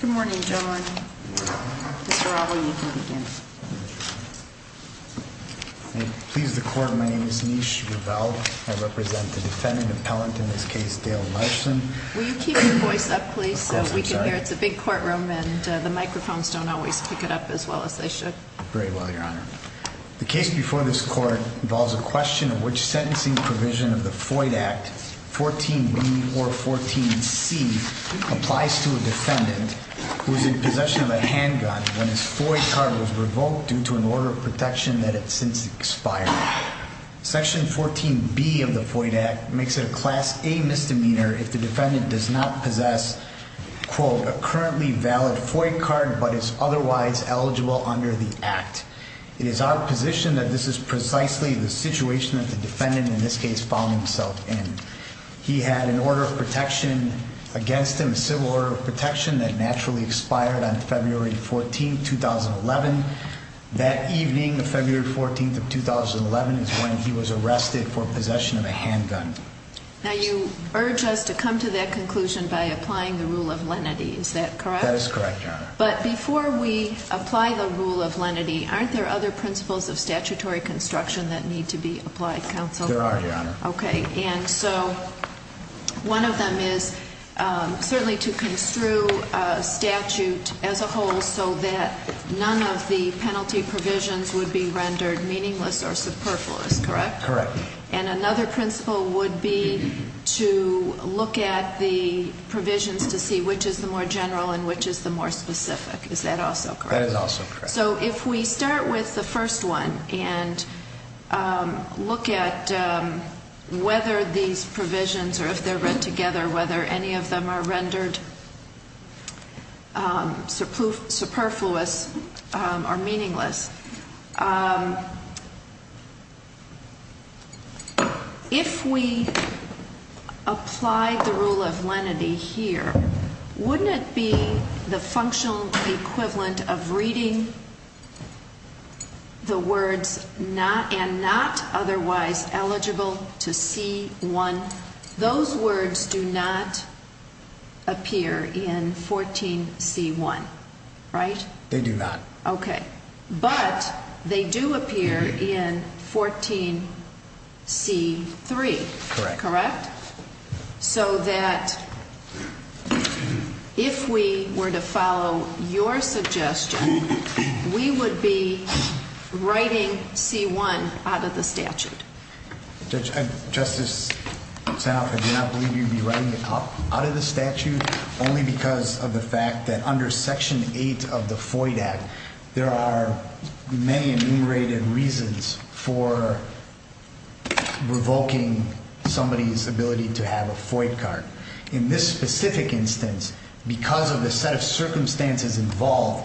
Good morning, gentlemen. The case before this court involves a question of which sentencing provision of the Foyd handgun when his Foyd card was revoked due to an order of protection that had since expired. Section 14B of the Foyd Act makes it a Class A misdemeanor if the defendant does not possess, quote, a currently valid Foyd card but is otherwise eligible under the Act. It is our position that this is precisely the situation that the defendant in this case found himself in. He had an order of protection against him, a civil order of protection that naturally expired on February 14, 2011. That evening, February 14, 2011, is when he was arrested for possession of a handgun. Now, you urge us to come to that conclusion by applying the rule of lenity. Is that correct? That is correct, Your Honor. But before we apply the rule of lenity, aren't there other principles of statutory construction that need to be applied, counsel? There are, Your Honor. Okay. And so one of them is certainly to construe a statute as a whole so that none of the penalty provisions would be rendered meaningless or superfluous, correct? Correct. And another principle would be to look at the provisions to see which is the more general and which is the more specific. Is that also correct? That is also correct. So if we start with the first one and look at whether these provisions or if they're read together, whether any of them are rendered superfluous or meaningless, if we apply the words not and not otherwise eligible to C-1, those words do not appear in 14C-1, right? They do not. Okay. But they do appear in 14C-3, correct? Correct. So that if we were to follow your suggestion, we would be writing C-1 out of the statute. Justice Sanoff, I do not believe you'd be writing it out of the statute only because of the fact that under Section 8 of the FOID Act, there are many enumerated reasons for revoking somebody's ability to have a FOID card. In this specific instance, because of the set of circumstances involved,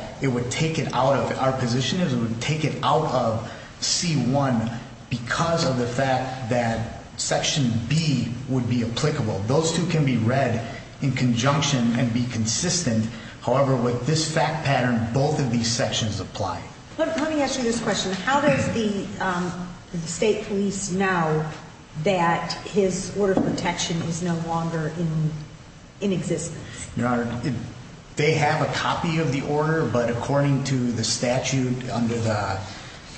our position is it would take it out of C-1 because of the fact that Section B would be applicable. Those two can be read in conjunction and be consistent. However, with this fact pattern, both of these sections apply. Let me ask you this question. How does the state police know that his order of protection is no longer in existence? Your Honor, they have a copy of the order, but according to the statute under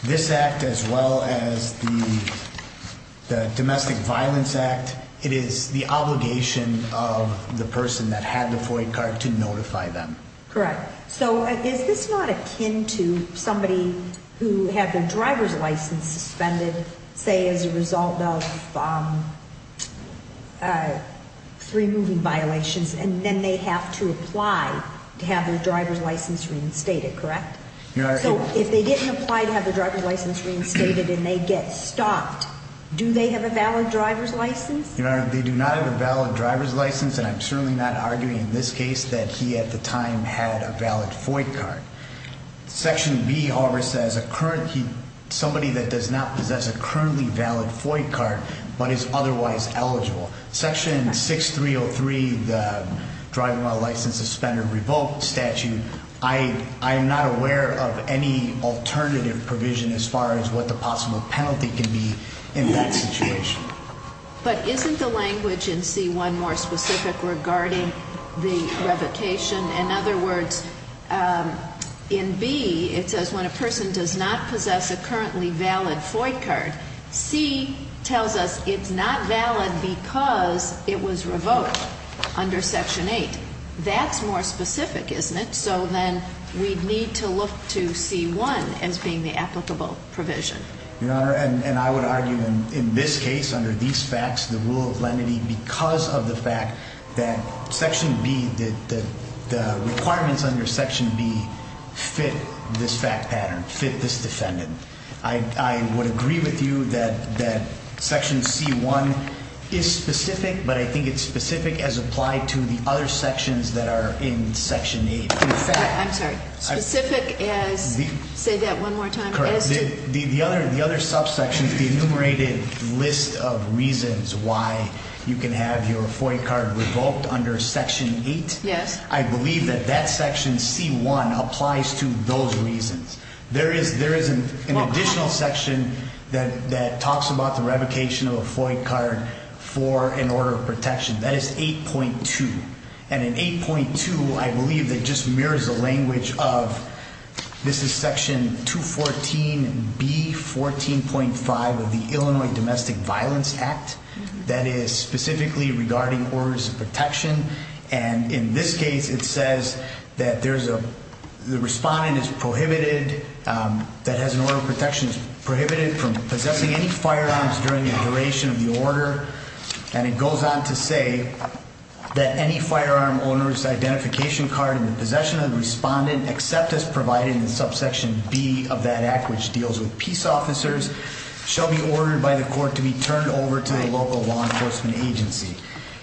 this act as well as the Domestic Violence Act, it is the obligation of the person that had the FOID card to notify them. Correct. So is this not akin to somebody who had their driver's license suspended, say as a result of three moving violations, and then they have to apply to have their driver's license reinstated, correct? Your Honor... So if they didn't apply to have their driver's license reinstated and they get stopped, do they have a valid driver's license? Your Honor, they do not have a valid driver's license, and I'm certainly not arguing in this case that he at the time had a valid FOID card. Section B, however, says somebody that does not possess a currently valid FOID card but is otherwise eligible. Section 6303, the driving without a license suspended revoked statute, I am not aware of any alternative provision as far as what the possible penalty can be in that situation. But isn't the language in C-1 more specific regarding the revocation? In other words, in B, it says when a person does not possess a currently valid FOID card, C tells us it's not valid because it was revoked under Section 8. That's more specific, isn't it? So then we'd need to look to C-1 as being the applicable provision. Your Honor, and I would argue in this case, under these facts, the rule of lenity, because of the fact that Section B, that the requirements under Section B fit this fact pattern, fit this defendant. I would agree with you that Section C-1 is specific, but I think it's specific as applied to the other sections that are in Section 8. I'm sorry. Specific as, say that one more time, as to the other subsections, the enumerated list of reasons why you can have your FOID card revoked under Section 8. Yes. I believe that that Section C-1 applies to those reasons. There is an additional section that talks about the revocation of a FOID card for an order of protection. That is 8.2. And in 8.2, I believe that just mirrors the language of, this is Section 214B-14.5 of the Illinois Domestic Violence Act, that is specifically regarding orders of protection. And in this case, it says that there's a, the respondent is prohibited, that has an order of protection, is prohibited from possessing any firearms during the duration of the order. And it goes on to say that any firearm owner's identification card in the possession of the respondent, except as provided in Subsection B of that act, which deals with peace officers, shall be ordered by the court to be turned over to the local law enforcement agency.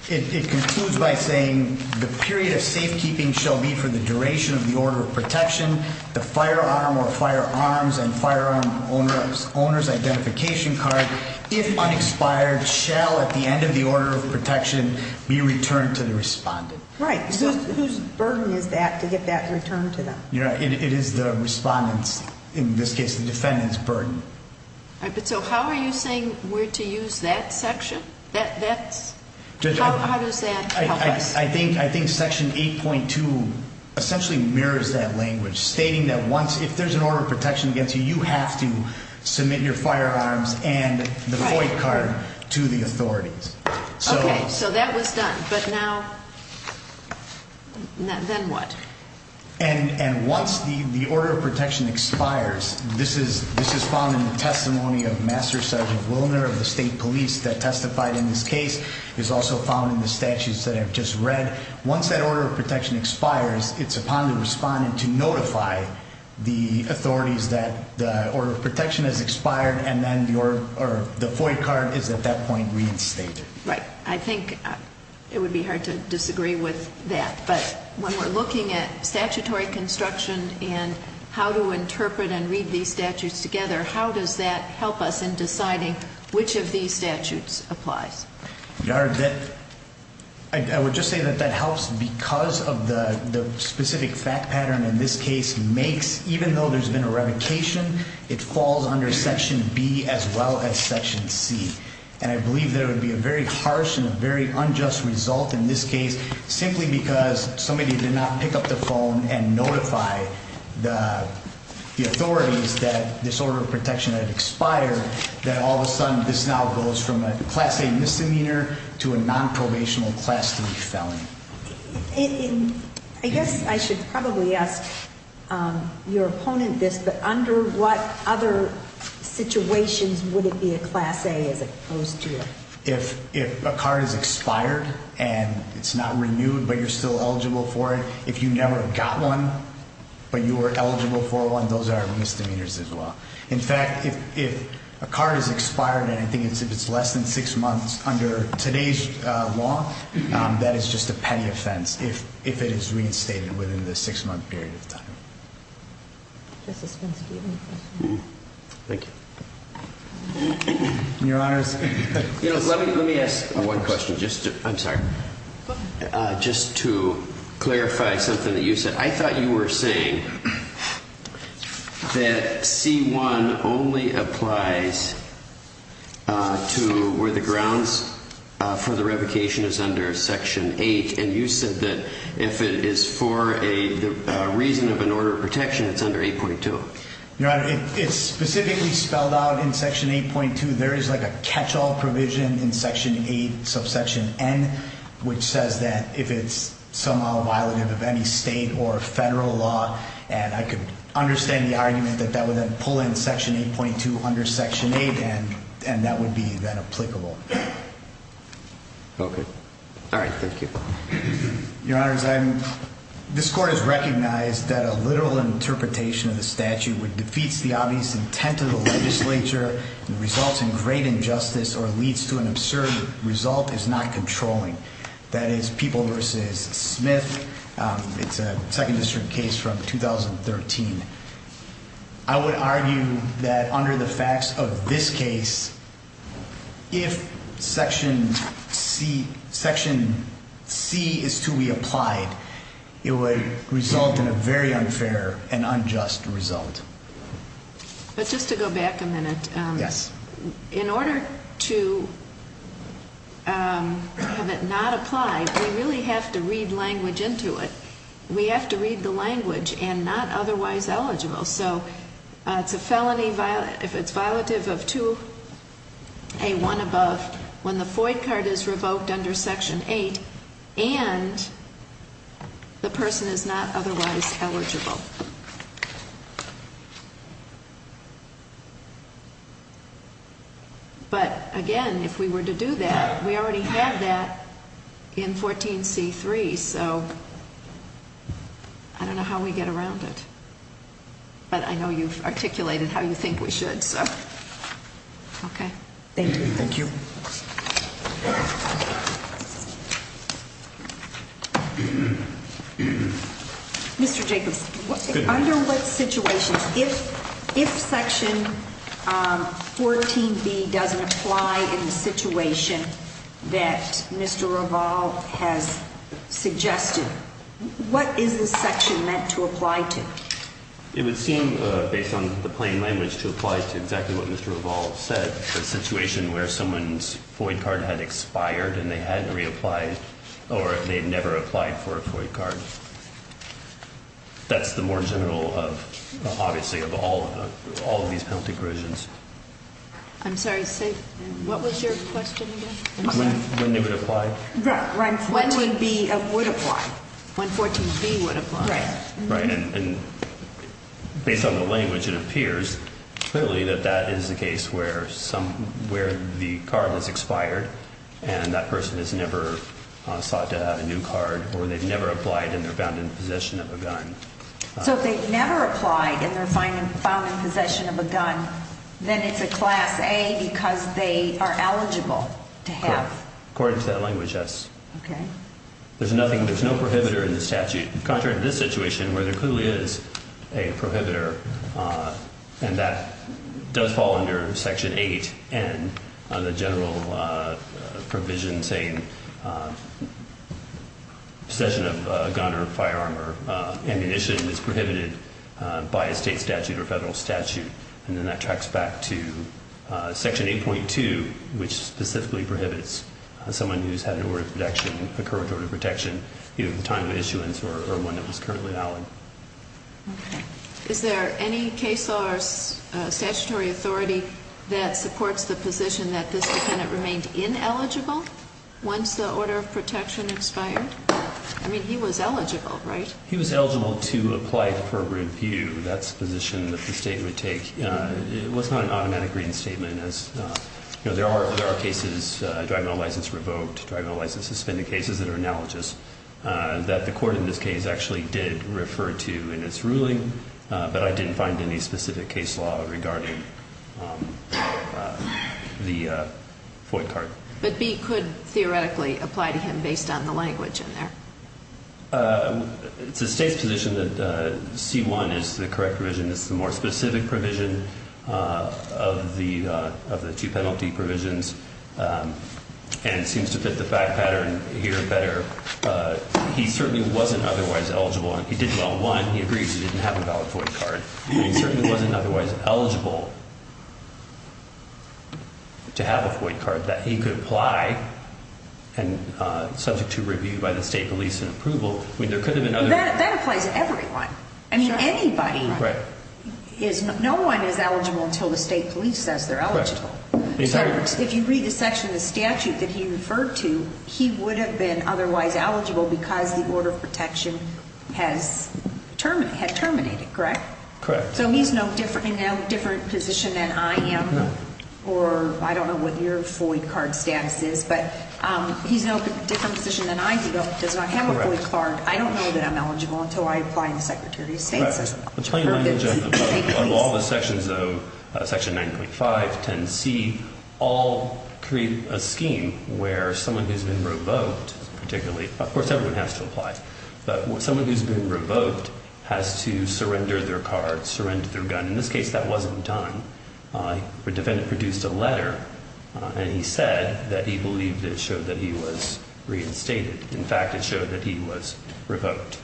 It concludes by saying the period of safekeeping shall be for the duration of the order of protection, the firearm or firearms and firearm owner's identification card, if unexpired, shall at the end of the order of protection be returned to the respondent. Right. So whose burden is that to get that returned to them? It is the respondent's, in this case the defendant's, burden. But so how are you saying we're to use that section? How does that help us? I think Section 8.2 essentially mirrors that language, stating that once, if there's an firearm, it's the respondent's responsibility to return the firearm and the FOIP card to the authorities. Okay. So that was done. But now, then what? And once the order of protection expires, this is found in the testimony of Master Sergeant Willner of the state police that testified in this case. It's also found in the statutes that I've just read. Once that order of protection expires, it's upon the respondent to notify the authorities that the order of protection has expired and then the FOIP card is at that point reinstated. Right. I think it would be hard to disagree with that. But when we're looking at statutory construction and how to interpret and read these statutes together, how does that help us in deciding which of these statutes applies? I would just say that that helps because of the specific fact pattern in this case makes, even though there's been a revocation, it falls under Section B as well as Section C. And I believe there would be a very harsh and a very unjust result in this case simply because somebody did not pick up the phone and notify the authorities that this order of protection had expired, that all of a sudden this now goes from a Class A misdemeanor to a nonprobational Class 3 felony. I guess I should probably ask your opponent this, but under what other situations would it be a Class A as opposed to? If a card is expired and it's not renewed, but you're still eligible for it. If you never got one, but you were eligible for one, those are misdemeanors as well. In fact, if a card is expired and I think it's less than six months under today's law, that is just a petty offense if it is reinstated within the six-month period of time. Justice Ginsburg, do you have any questions? Thank you. Your Honors. Let me ask one question, just to clarify something that you said. I thought you were saying that C-1 only applies to where the grounds for the revocation is under Section 8, and you said that if it is for a reason of an order of protection, it's under 8.2. Your Honor, it's specifically spelled out in Section 8.2. There is like a catch-all provision in Section 8, subsection N, which says that if it's somehow violative of any state or federal law, and I could understand the argument that that would then pull in Section 8.2 under Section 8, and that would be then applicable. Okay. All right, thank you. Your Honors, this Court has recognized that a literal interpretation of the statute which defeats the obvious intent of the legislature and results in great injustice or leads to an absurd result is not controlling. That is People v. Smith. It's a Second District case from 2013. I would argue that under the facts of this case, if Section C is to be applied, it would result in a very unfair and unjust result. But just to go back a minute. Yes. In order to have it not apply, we really have to read language into it. We have to read the language and not otherwise eligible. So it's a felony if it's violative of 2A1 above when the FOID card is revoked under Section 8 and the person is not otherwise eligible. But, again, if we were to do that, we already have that in 14C3, so I don't know how we get around it. But I know you've articulated how you think we should, so. Okay. Thank you. Thank you. Mr. Jacobs, under what situations, if Section 14B doesn't apply in the situation that Mr. Reval has suggested, what is this section meant to apply to? It would seem, based on the plain language, to apply to exactly what Mr. Reval said, the situation where someone's FOID card had expired and they hadn't reapplied or they had never applied for a FOID card. That's the more general, obviously, of all of these penalty provisions. I'm sorry. What was your question again? When they would apply. Right. 14B would apply. When 14B would apply. Right. Based on the language, it appears clearly that that is the case where the card has expired and that person has never sought to have a new card or they've never applied and they're found in possession of a gun. So if they've never applied and they're found in possession of a gun, then it's a Class A because they are eligible to have. Correct. According to that language, yes. Okay. There's no prohibitor in the statute. Contrary to this situation where there clearly is a prohibitor and that does fall under Section 8 and the general provision saying possession of a gun or firearm or ammunition is prohibited by a state statute or federal statute, and then that tracks back to Section 8.2, which specifically prohibits someone who's had an order of protection, a current order of protection, either at the time of issuance or when it was currently valid. Okay. Is there any case or statutory authority that supports the position that this defendant remained ineligible once the order of protection expired? I mean, he was eligible, right? He was eligible to apply for review. That's the position that the state would take. It was not an automatic reading statement. There are cases, drug and alcohol license revoked, drug and alcohol license suspended cases that are analogous, that the court in this case actually did refer to in its ruling, but I didn't find any specific case law regarding the FOIA card. But B could theoretically apply to him based on the language in there. It's the state's position that C-1 is the correct provision. Of the two penalty provisions. And it seems to fit the fact pattern here better. He certainly wasn't otherwise eligible. He did well, one, he agreed he didn't have a valid FOIA card. He certainly wasn't otherwise eligible to have a FOIA card that he could apply and subject to review by the state police and approval. That applies to everyone. I mean, anybody. No one is eligible until the state police says they're eligible. If you read the section of the statute that he referred to, he would have been otherwise eligible because the order of protection had terminated, correct? Correct. So he's in a different position than I am, or I don't know what your FOIA card status is, but he's in a different position than I am. He does not have a FOIA card. I don't know that I'm eligible until I apply to the Secretary of State. The plain language of all the sections of section 9.5, 10C, all create a scheme where someone who's been revoked, particularly, of course everyone has to apply, but someone who's been revoked has to surrender their card, surrender their gun. In this case, that wasn't done. The defendant produced a letter, and he said that he believed it showed that he was reinstated. In fact, it showed that he was revoked.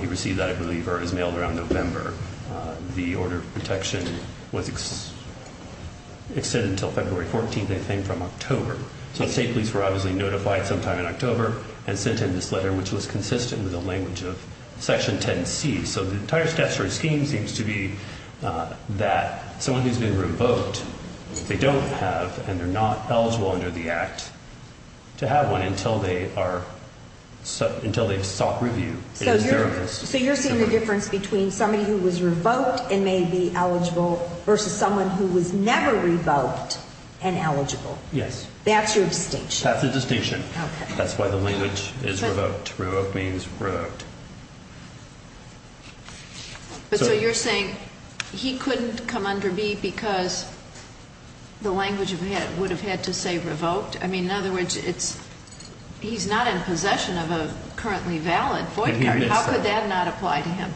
He received that, I believe, or it was mailed around November. The order of protection was extended until February 14th, I think, from October. So the state police were obviously notified sometime in October and sent him this letter, which was consistent with the language of section 10C. So the entire statutory scheme seems to be that someone who's been revoked, they don't have and they're not eligible under the act to have one until they've sought review. So you're saying the difference between somebody who was revoked and may be eligible versus someone who was never revoked and eligible. Yes. That's your distinction. That's the distinction. Okay. That's why the language is revoked. Revoked means revoked. But so you're saying he couldn't come under B because the language would have had to say revoked? I mean, in other words, he's not in possession of a currently valid void card. How could that not apply to him?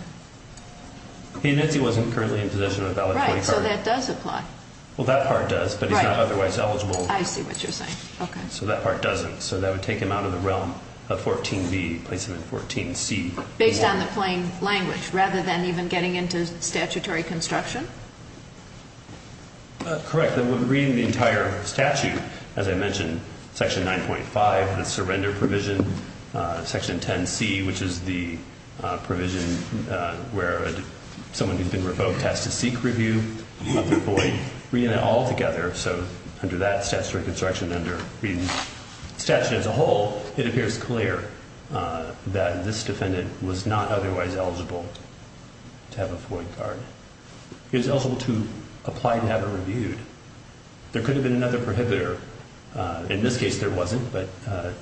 He admits he wasn't currently in possession of a valid void card. Right. So that does apply. Well, that part does, but he's not otherwise eligible. I see what you're saying. Okay. So that part doesn't. So that would take him out of the realm of 14B, place him in 14C. Based on the plain language rather than even getting into statutory construction? Correct. Reading the entire statute, as I mentioned, Section 9.5, the surrender provision, Section 10C, which is the provision where someone who's been revoked has to seek review of the void, so under that statutory construction under the statute as a whole, it appears clear that this defendant was not otherwise eligible to have a void card. He was eligible to apply to have it reviewed. There could have been another prohibitor. In this case, there wasn't, but,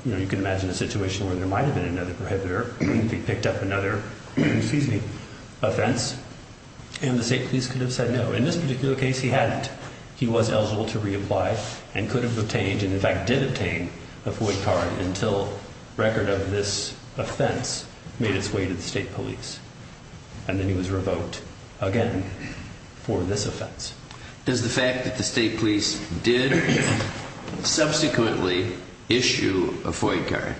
you know, you can imagine a situation where there might have been another prohibitor. He picked up another offense, and the state police could have said no. In this particular case, he hadn't. He was eligible to reapply and could have obtained and, in fact, did obtain a void card until record of this offense made its way to the state police, and then he was revoked again for this offense. Does the fact that the state police did subsequently issue a void card,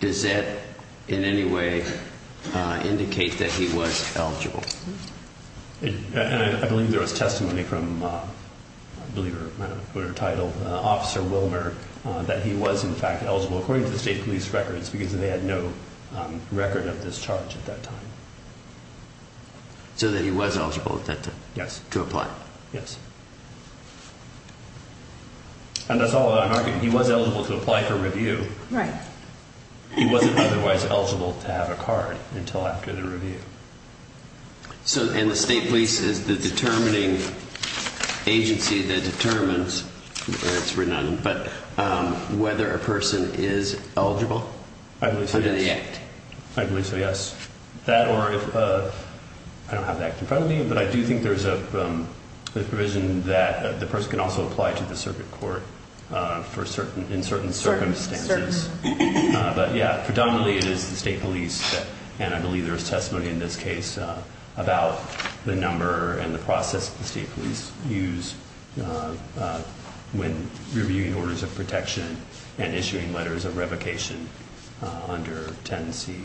does that in any way indicate that he was eligible? I believe there was testimony from a believer, I don't know what her title, Officer Wilmer, that he was, in fact, eligible according to the state police records because they had no record of this charge at that time. So that he was eligible to apply? Yes. And that's all I'm arguing. He was eligible to apply for review. Right. He wasn't otherwise eligible to have a card until after the review. And the state police is the determining agency that determines whether a person is eligible? I believe so, yes. Under the act? I believe so, yes. I don't have the act in front of me, but I do think there's a provision that the person can also apply to the circuit court in certain circumstances. But, yeah, predominantly it is the state police, and I believe there was testimony in this case about the number and the process the state police use when reviewing orders of protection and issuing letters of revocation under 10C.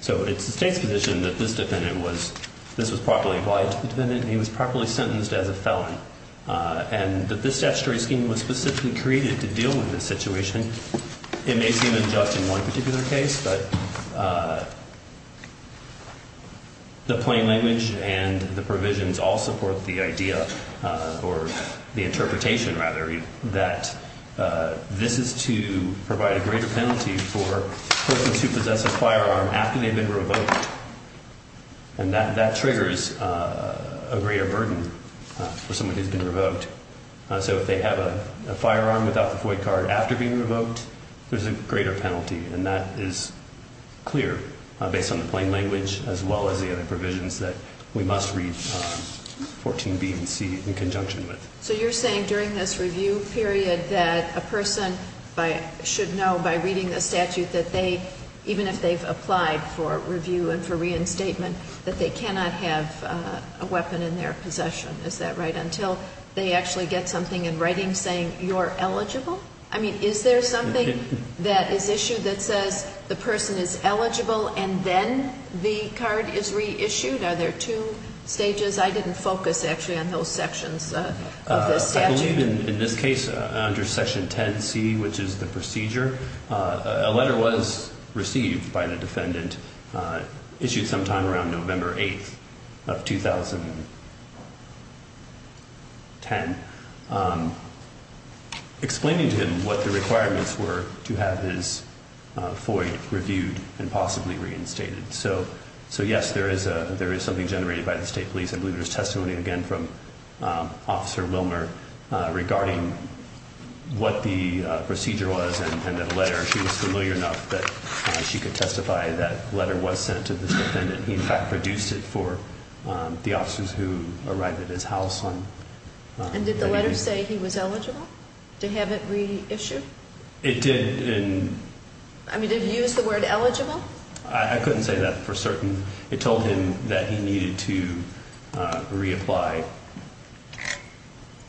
So it's the state's position that this defendant was, this was properly applied to the defendant, and he was properly sentenced as a felon. And that this statutory scheme was specifically created to deal with this situation. It may seem unjust in one particular case, but the plain language and the provisions all support the idea, or the interpretation, rather, that this is to provide a greater penalty for persons who possess a firearm after they've been revoked. And that triggers a greater burden for someone who's been revoked. So if they have a firearm without the void card after being revoked, there's a greater penalty, and that is clear based on the plain language as well as the other provisions that we must read 14B and C in conjunction with. So you're saying during this review period that a person should know by reading the statute that they, even if they've applied for review and for reinstatement, that they cannot have a weapon in their possession. Is that right? Until they actually get something in writing saying you're eligible? I mean, is there something that is issued that says the person is eligible and then the card is reissued? Are there two stages? I didn't focus, actually, on those sections of this statute. I believe in this case under Section 10C, which is the procedure, a letter was received by the defendant issued sometime around November 8th of 2010 explaining to him what the requirements were to have his void reviewed and possibly reinstated. So, yes, there is something generated by the state police. I believe there's testimony, again, from Officer Wilmer regarding what the procedure was and that letter she was familiar enough that she could testify that letter was sent to this defendant. He, in fact, produced it for the officers who arrived at his house on November 8th. And did the letter say he was eligible to have it reissued? It did. I mean, did it use the word eligible? I couldn't say that for certain. It told him that he needed to reapply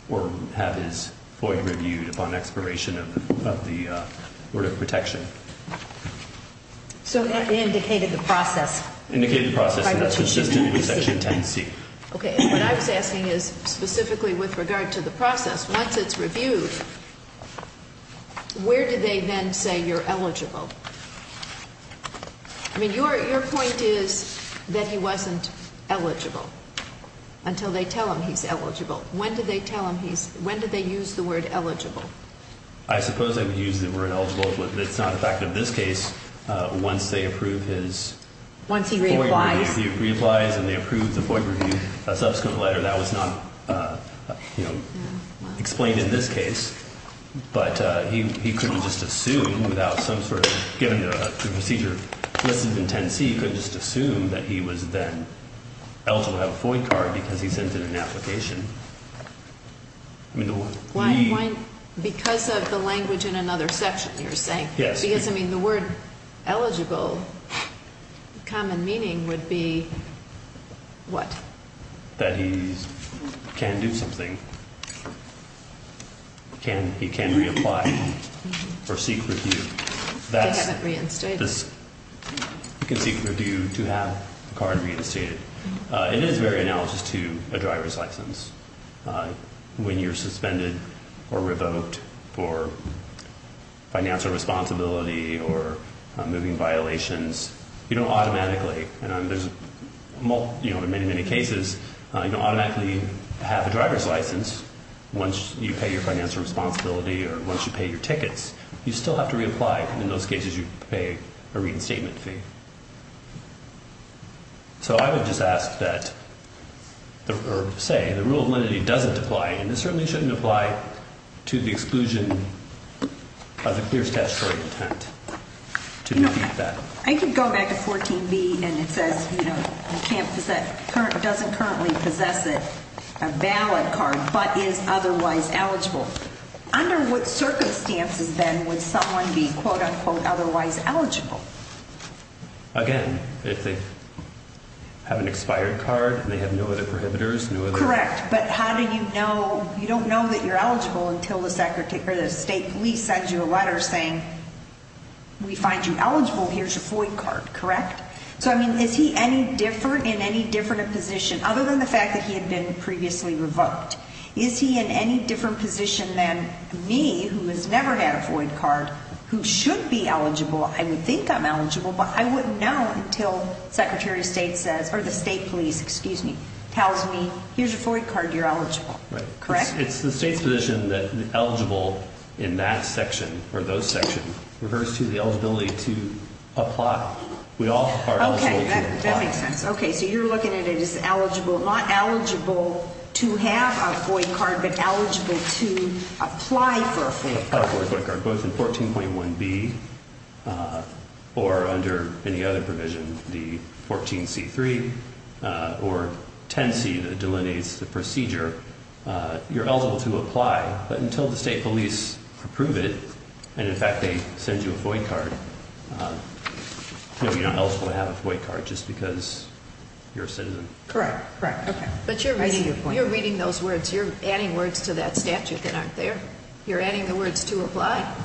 or have his void reviewed upon expiration of the word of protection. So it indicated the process. Indicated the process, and that's consistent with Section 10C. Okay, and what I was asking is specifically with regard to the process, once it's reviewed, where do they then say you're eligible? I mean, your point is that he wasn't eligible until they tell him he's eligible. When did they tell him he's ‑‑ when did they use the word eligible? I suppose they would use the word eligible, but it's not a fact in this case. Once they approve his void review. Once he reapplies. He reapplies and they approve the void review. A subsequent letter, that was not, you know, explained in this case. But he couldn't just assume without some sort of ‑‑ given the procedure listed in 10C, he couldn't just assume that he was then eligible to have a void card because he sent in an application. Why, because of the language in another section, you're saying? Yes. Because, I mean, the word eligible, the common meaning would be what? That he can do something. He can reapply or seek review. They haven't reinstated him. He can seek review to have the card reinstated. It is very analogous to a driver's license. When you're suspended or revoked for financial responsibility or moving violations, you don't automatically, and there's many, many cases, you don't automatically have a driver's license once you pay your financial responsibility or once you pay your tickets. You still have to reapply. In those cases, you pay a reinstatement fee. So I would just ask that, or say, the rule of lenity doesn't apply, and it certainly shouldn't apply to the exclusion of the clear statutory intent to do that. I could go back to 14B, and it says, you know, doesn't currently possess a valid card but is otherwise eligible. Under what circumstances, then, would someone be, quote, unquote, otherwise eligible? Again, if they have an expired card and they have no other prohibitors, no other? Correct, but how do you know? You don't know that you're eligible until the state police sends you a letter saying, we find you eligible, here's your FOID card, correct? So, I mean, is he any different in any different position other than the fact that he had been previously revoked? Is he in any different position than me, who has never had a FOID card, who should be eligible? I would think I'm eligible, but I wouldn't know until Secretary of State says, or the state police, excuse me, tells me, here's your FOID card, you're eligible, correct? It's the state's position that eligible in that section, or those sections, refers to the eligibility to apply. We all are eligible to apply. Okay, that makes sense. Okay, so you're looking at it as eligible, not eligible to have a FOID card, but eligible to apply for a FOID card. Both in 14.1B, or under any other provision, the 14C3, or 10C that delineates the procedure, you're eligible to apply, but until the state police approve it, and in fact, they send you a FOID card, you're not eligible to have a FOID card, just because you're a citizen. Correct, correct, okay. But you're reading those words, you're adding words to that statute that aren't there. You're adding the words to apply.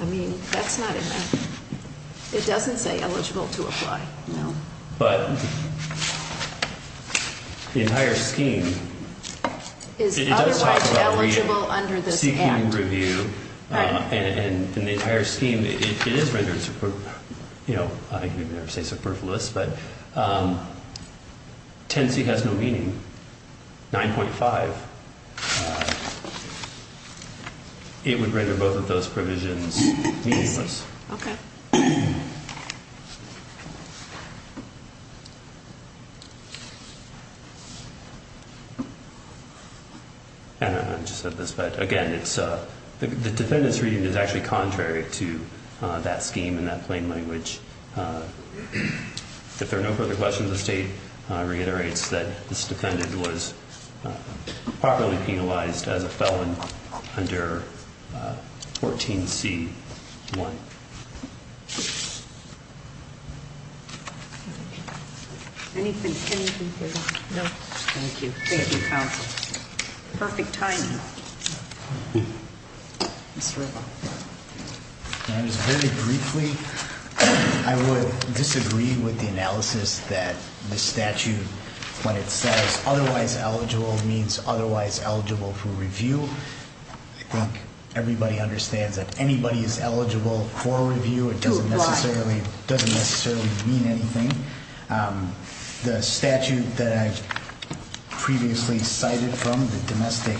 I mean, that's not in there. It doesn't say eligible to apply, no. But the entire scheme, it does talk about seeking review, and the entire scheme, it is rendered, you know, I can never say superfluous, but 10C has no meaning. 9.5, it would render both of those provisions meaningless. Okay. I just said this, but again, the defendant's reading is actually contrary to that scheme in that plain language. If there are no further questions, the state reiterates that this defendant was properly penalized as a felon under 14C1. Anything further? No. Thank you. Thank you, counsel. Perfect timing. Mr. Ripa. Very briefly, I would disagree with the analysis that the statute, when it says otherwise eligible, means otherwise eligible for review. I think everybody understands that anybody is eligible for review. It doesn't necessarily mean anything. The statute that I previously cited from the Domestic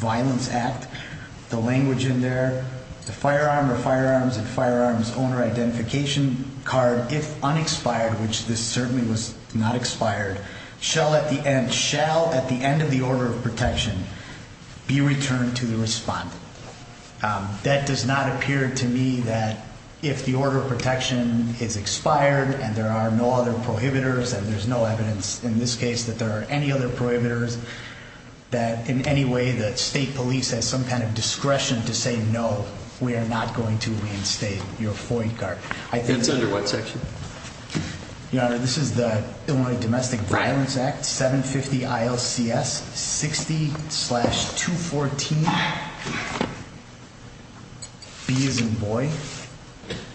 Violence Act, the language in there, the firearm or firearms and firearms owner identification card, if unexpired, which this certainly was not expired, shall at the end of the order of protection be returned to the respondent. That does not appear to me that if the order of protection is expired and there are no other prohibitors, and there's no evidence in this case that there are any other prohibitors, that in any way that state police has some kind of discretion to say no, we are not going to reinstate your FOIA card. It's under what section? Your Honor, this is the Illinois Domestic Violence Act, 750 ILCS 60-214. B as in boy.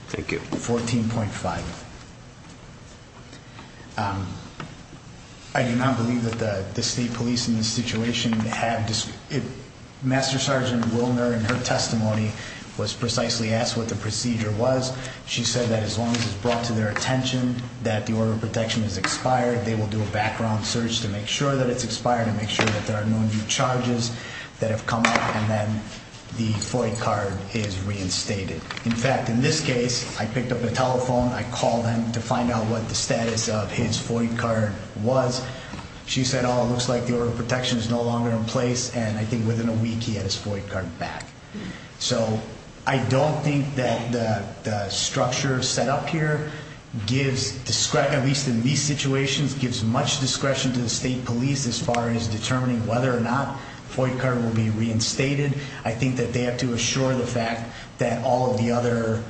Thank you. 14.5. I do not believe that the state police in this situation have. Master Sergeant Wilner, in her testimony, was precisely asked what the procedure was. She said that as long as it's brought to their attention that the order of protection is expired, they will do a background search to make sure that it's expired and make sure that there are no new charges that have come up, and then the FOIA card is reinstated. In fact, in this case, I picked up the telephone. I called him to find out what the status of his FOIA card was. She said, oh, it looks like the order of protection is no longer in place, and I think within a week he had his FOIA card back. So I don't think that the structure set up here gives discretion, at least in these situations, gives much discretion to the state police as far as determining whether or not the FOIA card will be reinstated. I think that they have to assure the fact that all of the other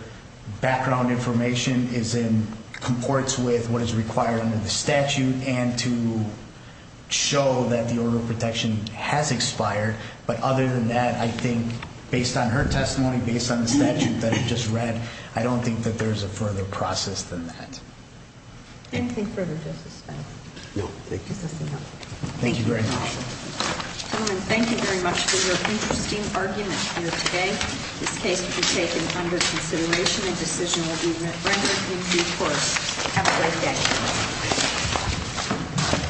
background information is in comports with what is required under the statute and to show that the order of protection has expired. But other than that, I think, based on her testimony, based on the statute that I just read, I don't think that there's a further process than that. Anything further, Justice Spence? No, thank you. Thank you very much. Gentlemen, thank you very much for your interesting argument here today. This case will be taken under consideration, and a decision will be rendered in due course. Have a great day.